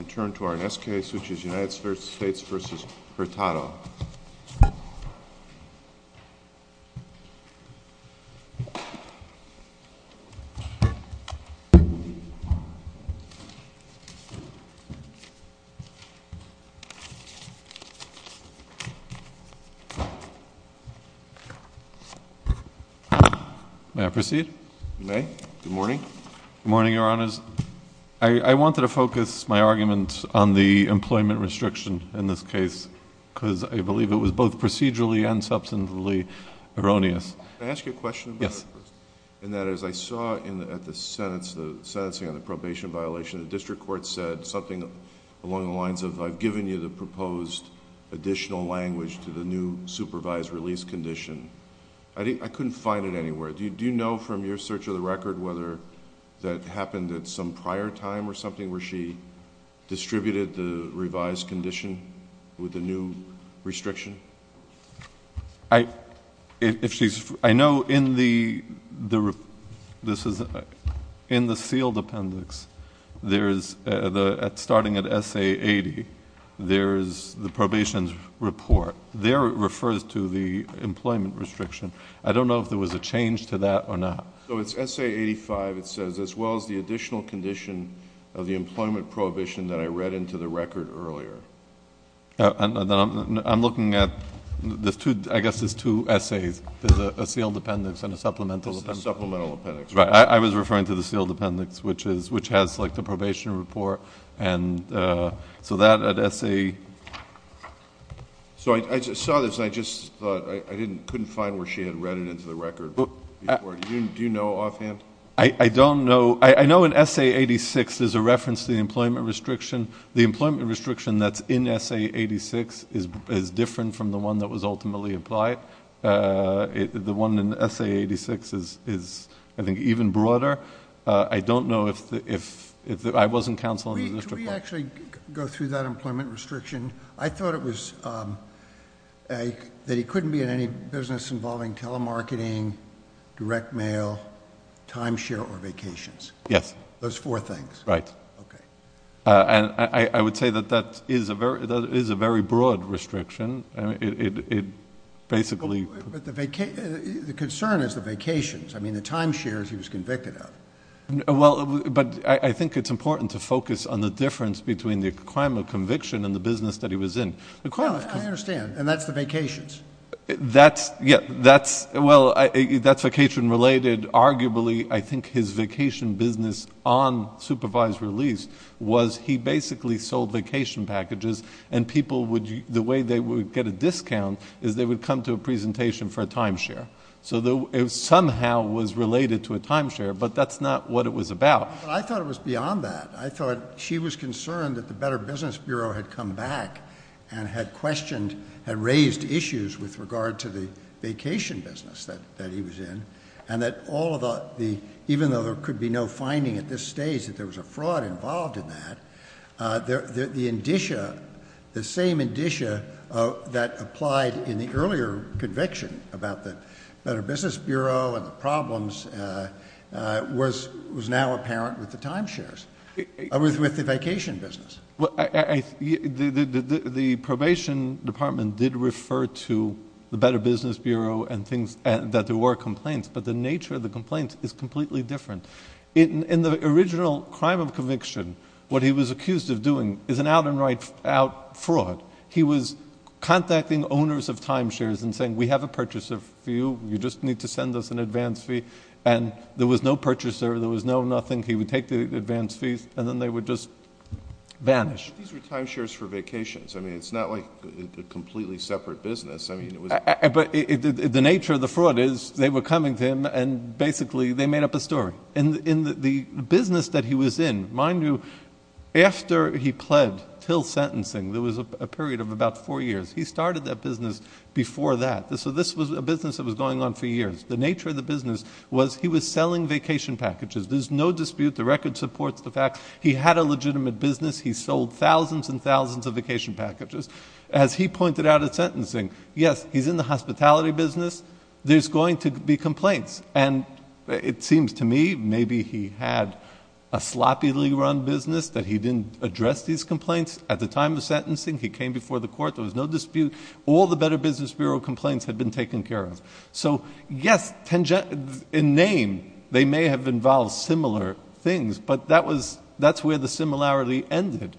And turn to our next case, which is United States v. Hurtado. May I proceed? Good morning, Your Honors. I wanted to focus my argument on the employment restriction in this case, because I believe it was both procedurally and substantively erroneous. Can I ask you a question? Yes. And that is, I saw at the sentence, the sentencing on the probation violation, the district court said something along the lines of, I've given you the proposed additional language to the new supervised release condition. I couldn't find it anywhere. Do you know from your search of the record whether that happened at some prior time or something, where she distributed the revised condition with the new restriction? I know in the sealed appendix, starting at SA80, there is the probation report. There it refers to the employment restriction. I don't know if there was a change to that or not. So it's SA85, it says, as well as the additional condition of the employment prohibition that I read into the record earlier. I'm looking at, I guess there's two essays. There's a sealed appendix and a supplemental appendix. Supplemental appendix. Right. I was referring to the sealed appendix, which has like the probation report. And so that at SA... So I saw this and I just thought, I couldn't find where she had read it into the record. Do you know offhand? I don't know. I know in SA86, there's a reference to the employment restriction. The employment restriction that's in SA86 is different from the one that was ultimately implied. The one in SA86 is, I think, even broader. I don't know if... I wasn't counseling the district... Can we actually go through that employment restriction? I thought it was that he couldn't be in any business involving telemarketing, direct mail, timeshare or vacations. Yes. Those four things. Right. Okay. And I would say that that is a very broad restriction. It basically... But the concern is the vacations. I mean, the timeshares he was convicted of. Well, but I think it's important to focus on the difference between the crime of conviction and the business that he was in. No, I understand. And that's the vacations. That's... well, that's vacation related. Arguably, I think his vacation business on supervised release was he basically sold vacation packages and people would... the way they would get a discount is they would come to a presentation for a timeshare. So it somehow was related to a timeshare, but that's not what it was about. I thought it was beyond that. I thought she was concerned that the Better Business Bureau had come back and had questioned... had raised issues with regard to the vacation business that he was in, and that all of the... even though there could be no finding at this stage that there was a fraud involved in that, the indicia... the same indicia that applied in the earlier conviction about the Better Business Bureau. It's not that apparent with the timeshares... with the vacation business. Well, I... the probation department did refer to the Better Business Bureau and things... that there were complaints, but the nature of the complaints is completely different. In the original crime of conviction, what he was accused of doing is an out and right out fraud. He was contacting owners of timeshares and saying, we have a purchaser for you. You just need to send us an advance fee. And there was no purchaser. There was no nothing. He would take the advance fees, and then they would just vanish. But these were timeshares for vacations. I mean, it's not like a completely separate business. I mean, it was... But the nature of the fraud is they were coming to him, and basically they made up a story. In the business that he was in, mind you, after he pled, till sentencing, there was a period of about four years. He started that business before that. So this was a business that was going on for years, was he was selling vacation packages. There's no dispute. The record supports the fact he had a legitimate business. He sold thousands and thousands of vacation packages. As he pointed out at sentencing, yes, he's in the hospitality business. There's going to be complaints. And it seems to me maybe he had a sloppily run business that he didn't address these complaints. At the time of sentencing, he came before the court. There was no dispute. All the Better Business Bureau complaints had been taken care of. So, yes, in name, they may have involved similar things, but that's where the similarity ended.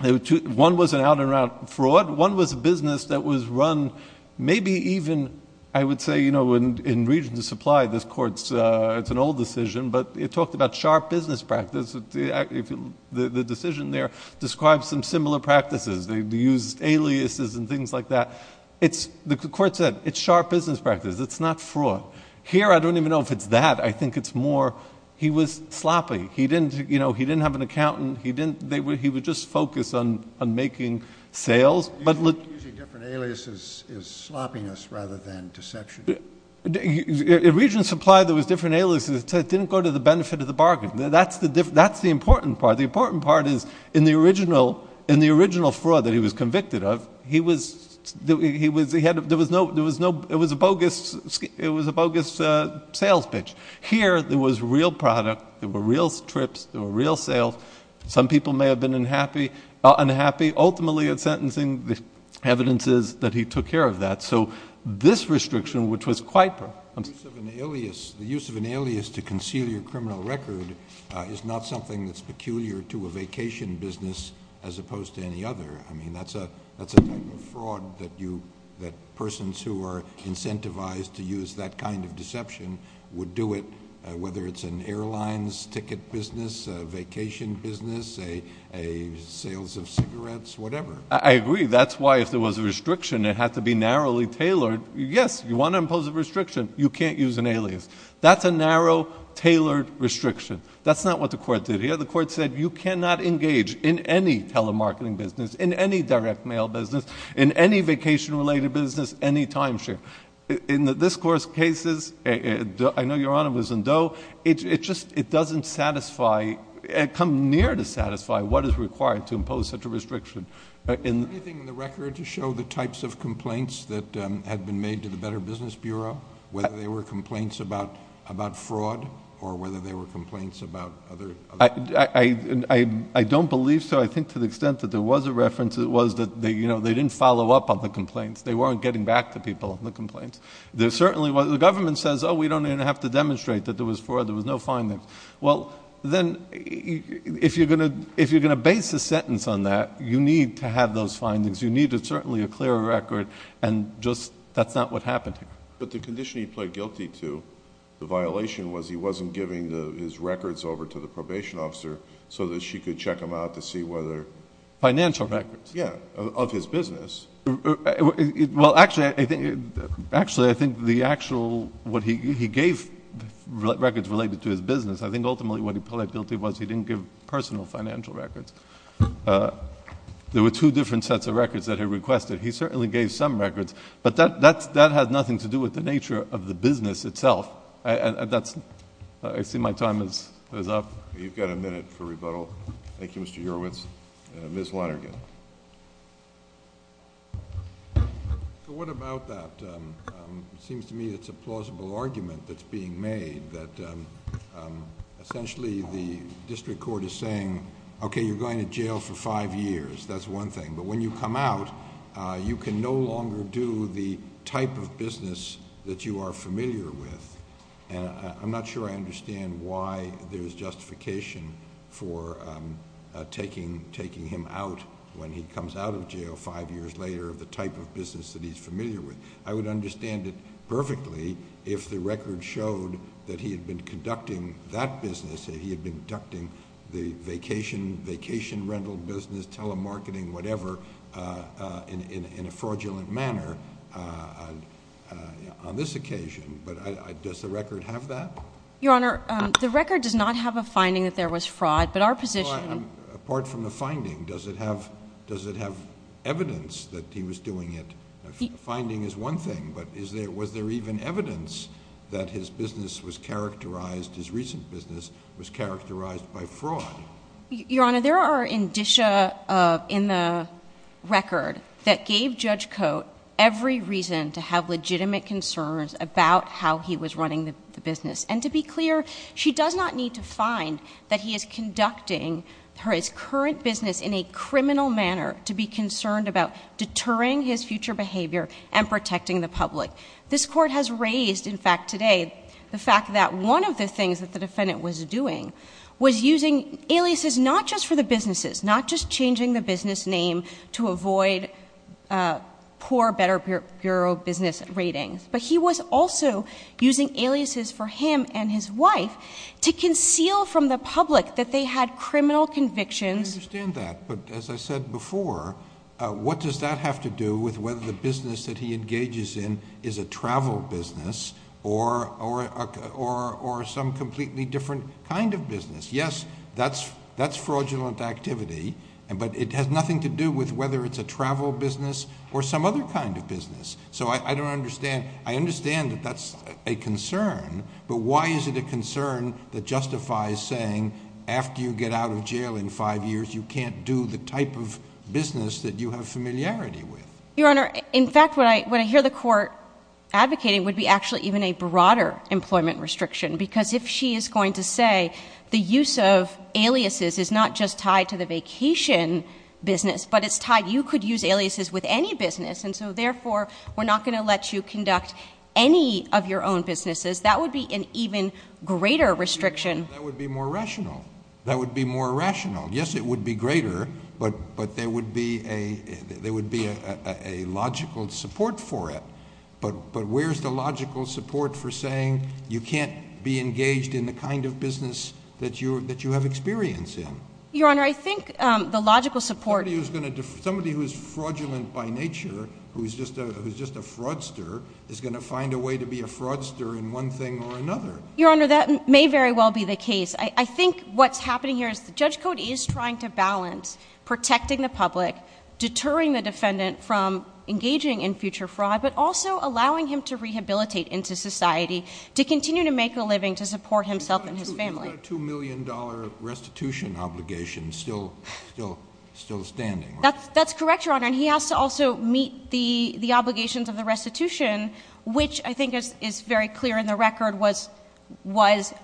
One was an out-and-out fraud. One was a business that was run maybe even, I would say, in regions of supply. This court's... it's an old decision, but it talked about sharp business practice. The decision there describes some similar practices. They used aliases and things like that. The court said, it's sharp business practice. It's not fraud. Here, I don't even know if it's that. I think it's more he was sloppy. He didn't have an accountant. He would just focus on making sales. You're using different aliases as sloppiness rather than deception. In regions of supply, there was different aliases. It didn't go to the benefit of the bargain. That's the important part. The important part is in the original fraud that he was convicted of, he was... there was no... it was a bogus sales pitch. Here, there was real product. There were real trips. There were real sales. Some people may have been unhappy. Ultimately, in sentencing, the evidence is that he took care of that. This restriction, which was quite... The use of an alias to conceal your criminal record is not something that's peculiar to a vacation business as opposed to any other. That's a type of fraud that persons who are incentivized to use that kind of deception would do it, whether it's an airlines ticket business, a vacation business, a sales of cigarettes, whatever. I agree. That's why if there was a restriction, it had to be narrowly tailored. Yes, you want to impose a restriction. You can't use an alias. That's a narrow, tailored restriction. That's not what the court did here. The court said you cannot engage in any telemarketing business, in any direct mail business, in any vacation-related business, any timeshare. In this Court's cases... I know Your Honor was in Doe. It just... it doesn't satisfy... come near to satisfy what is required to impose such a restriction. Is there anything in the record to show the types of complaints that had been made to the Better Business Bureau, whether they were complaints about fraud or whether they were complaints about other... I don't believe so. I think to the extent that there was a reference, it was that they didn't follow up on the complaints. They weren't getting back to people on the complaints. There certainly was... the government says, oh, we don't even have to demonstrate that there was fraud. There was no findings. Well, then, if you're going to base a sentence on that, you need to have those findings. You need certainly a clearer record and just... that's not what happened here. But the condition he pled guilty to, the violation was he wasn't giving his records over to the probation officer so that she could check them out to see whether... Financial records. Yeah, of his business. Well, actually, I think... actually, I think the actual... what he gave records related to his business, I think ultimately what he pled guilty was he didn't give personal financial records. There were two different sets of records that he requested. He certainly gave some records, but that has nothing to do with the nature of the business itself. That's... I see my time is up. You've got a minute for rebuttal. Thank you, Mr. Hurwitz. Ms. Lonergan. What about that? It seems to me it's a plausible argument that's being made that essentially the district court is saying, okay, you're going to jail for five years. That's one thing. When you come out, you can no longer do the type of business that you are familiar with. I'm not sure I understand why there's justification for taking him out when he comes out of jail five years later of the type of business that he's familiar with. I would understand it perfectly if the record showed that he had been conducting that business, that he had been conducting the vacation rental business, telemarketing, whatever, in a fraudulent manner on this occasion, but does the record have that? Your Honor, the record does not have a finding that there was fraud, but our position... But apart from the finding, does it have evidence that he was doing it? Finding is one thing, but was there even evidence that his business was characterized, his recent business was characterized by fraud? Your Honor, there are indicia in the record that gave Judge Cote every reason to have legitimate concerns about how he was running the business, and to be clear, she does not need to find that he is conducting his current business in a criminal manner to be concerned about deterring his future behavior and protecting the public. This Court has raised, in fact, today the fact that one of the things that the defendant was doing was using aliases not just for the businesses, not just changing the business name to avoid poor Better Bureau business ratings, but he was also using aliases for him and his wife to conceal from the public that they had criminal convictions... I understand that, but as I said before, what does that have to do with whether the business that he engages in is a travel business or some completely different kind of business? Yes, that's fraudulent activity, but it has nothing to do with whether it's a travel business or some other kind of business. So I don't understand. I understand that that's a concern, but why is it a concern that justifies saying after you get out of jail in five years, you can't do the type of business that you have familiarity with? Your Honor, in fact, what I hear the Court advocating would be actually even a broader employment restriction, because if she is going to say the use of aliases is not just tied to the vacation business, but it's tied... you could use aliases with any business, and so therefore we're not going to let you conduct any of your own businesses. That would be an even greater restriction. That would be more rational. That would be more rational. Yes, it would be greater, but there would be a logical support for it. But where is the logical support for saying you can't be engaged in the kind of business that you have experience in? Your Honor, I think the logical support... Somebody who is fraudulent by nature, who is just a fraudster, is going to find a way to be a fraudster in one thing or another. Your Honor, that may very well be the case. I think what's happening here is the judge code is trying to balance protecting the public, deterring the defendant from engaging in future fraud, but also allowing him to rehabilitate into society to continue to make a living to support himself and his family. He's got a $2 million restitution obligation still standing. That's correct, Your Honor. He has to also meet the obligations of the restitution, which I think is very clear in the record was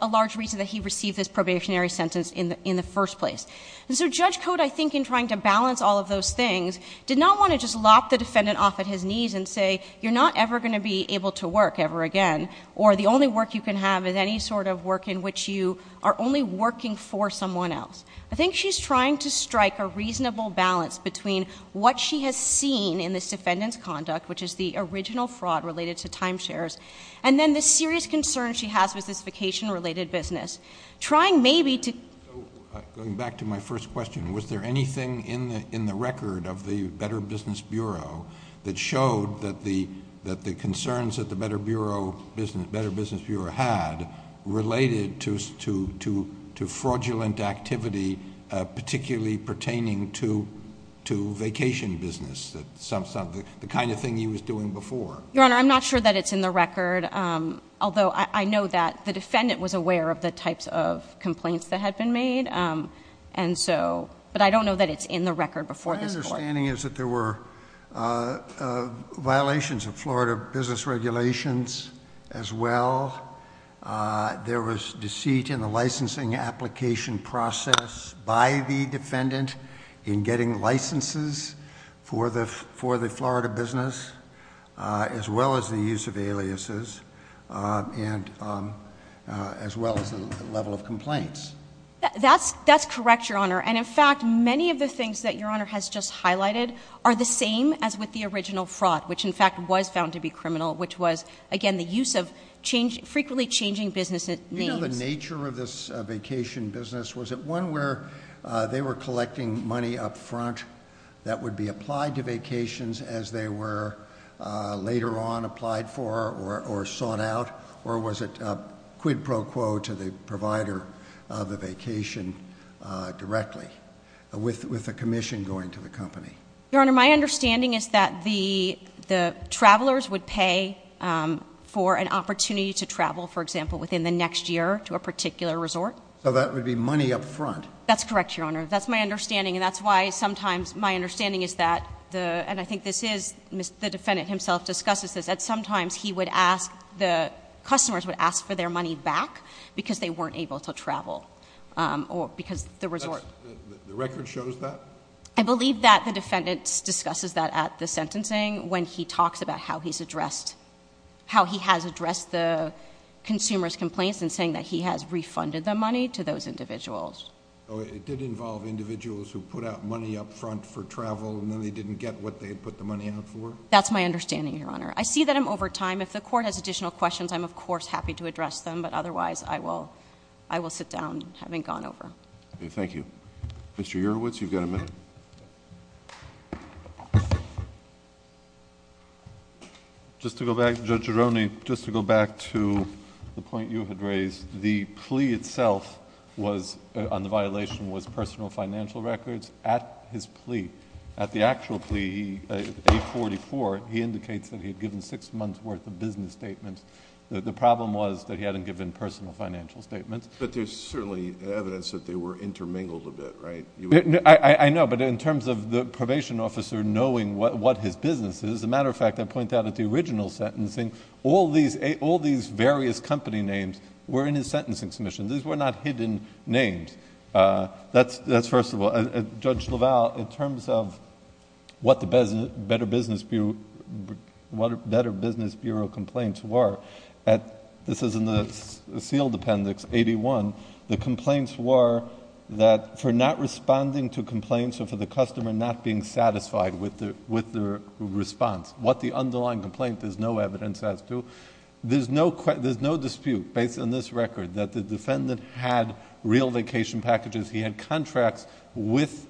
a large reason that he received this probationary sentence in the first place. Judge code, I think, in trying to balance all of those things, did not want to just lop the defendant off at his knees and say, you're not ever going to be able to work ever again, or the only work you can have is any sort of work in which you are only working for someone else. I think she's trying to strike a reasonable balance between what she has seen in this defendant's conduct, which is the original fraud related to timeshares, and then the serious concern she has with this vacation- related business, trying maybe to... Going back to my first question, was there anything in the record of the Better Business Bureau that showed that the concerns that the Better Business Bureau had related to fraudulent activity, particularly pertaining to vacation business, the kind of thing he was doing before? Your Honor, I'm not sure that it's in the record, although I know that the defendant was aware of the types of complaints that had been made, but I guess my understanding is that there were violations of Florida business regulations as well. There was deceit in the licensing application process by the defendant in getting licenses for the Florida business, as well as the use of aliases, as well as the level of complaints. That's correct, Your Honor. In fact, many of the things that Your Honor has just highlighted are the same as with the original fraud, which in fact was found to be criminal, which was, again, the use of frequently changing business names. Do you know the nature of this vacation business? Was it one where they were collecting money up front that would be applied to vacations as they were later on applied for or sought out, or was it pre-pro-quo to the provider of the vacation directly with the commission going to the company? Your Honor, my understanding is that the travelers would pay for an opportunity to travel, for example, within the next year to a particular resort. That would be money up front? That's correct, Your Honor. That's my understanding, and that's why sometimes my understanding is that, and I think this is... the defendant himself discusses this, that customers would ask for their money back because they weren't able to travel or because the resort... The record shows that? I believe that the defendant discusses that at the sentencing when he talks about how he's addressed... how he has addressed the consumer's complaints in saying that he has refunded the money to those individuals. It did involve individuals who put out money up front for travel, and then they didn't get what they had put the money out for? That's my understanding, Your Honor. I see that I'm over time. If the Court has additional questions, I'm, of course, happy to address them, but otherwise, I will sit down having gone over. Okay. Thank you. Mr. Urwitz, you've got a minute. Just to go back... Judge Gironi, just to go back to the point you had raised, the plea itself was... on the violation was personal financial records at his plea. At the actual plea, A44, he indicates that he had given six months' worth of business statements. The problem was that he hadn't given personal financial statements. But there's certainly evidence that they were intermingled a bit, right? I know, but in terms of the probation officer knowing what his business is, as a matter of fact, I point out at the original sentencing, all these various company names were in his sentencing submission. These were not hidden names. That's first of all. Judge LaValle, in terms of what the Better Business Bureau complaints were, this is in the sealed appendix, 81, the complaints were that for not responding to complaints or for the customer not being satisfied with their response, what the underlying complaint, there's no evidence as to, there's no dispute based on this record, that the defendant had real vacation packages. He had contracts with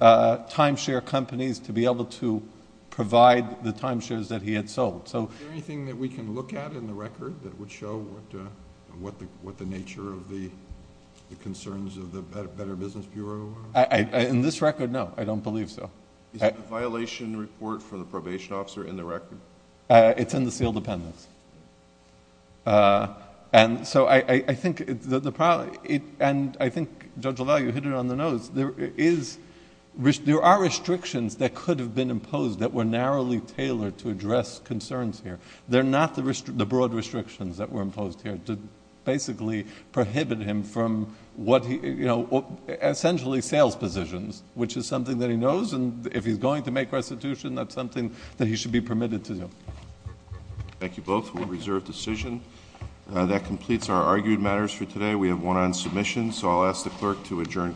timeshare companies to be able to provide the timeshares that he had sold. So...... Is there anything that we can look at in the record that would show what the nature of the concerns of the Better Business Bureau are? In this record, no. Is the violation report for the probation officer in the record? It's in the sealed appendix. I think Judge LaValle, you hit it on the nose, there are restrictions that could have been imposed that were narrowly tailored to address concerns here. They're not the broad restrictions that were imposed here to basically prohibit him from essentially sales positions, which is something that he knows and if he's going to make restitution, that's something that he should be permitted to do. Thank you both. We'll reserve decision. That completes our argued matters for today. We have one on submission, so I'll ask the clerk to adjourn court.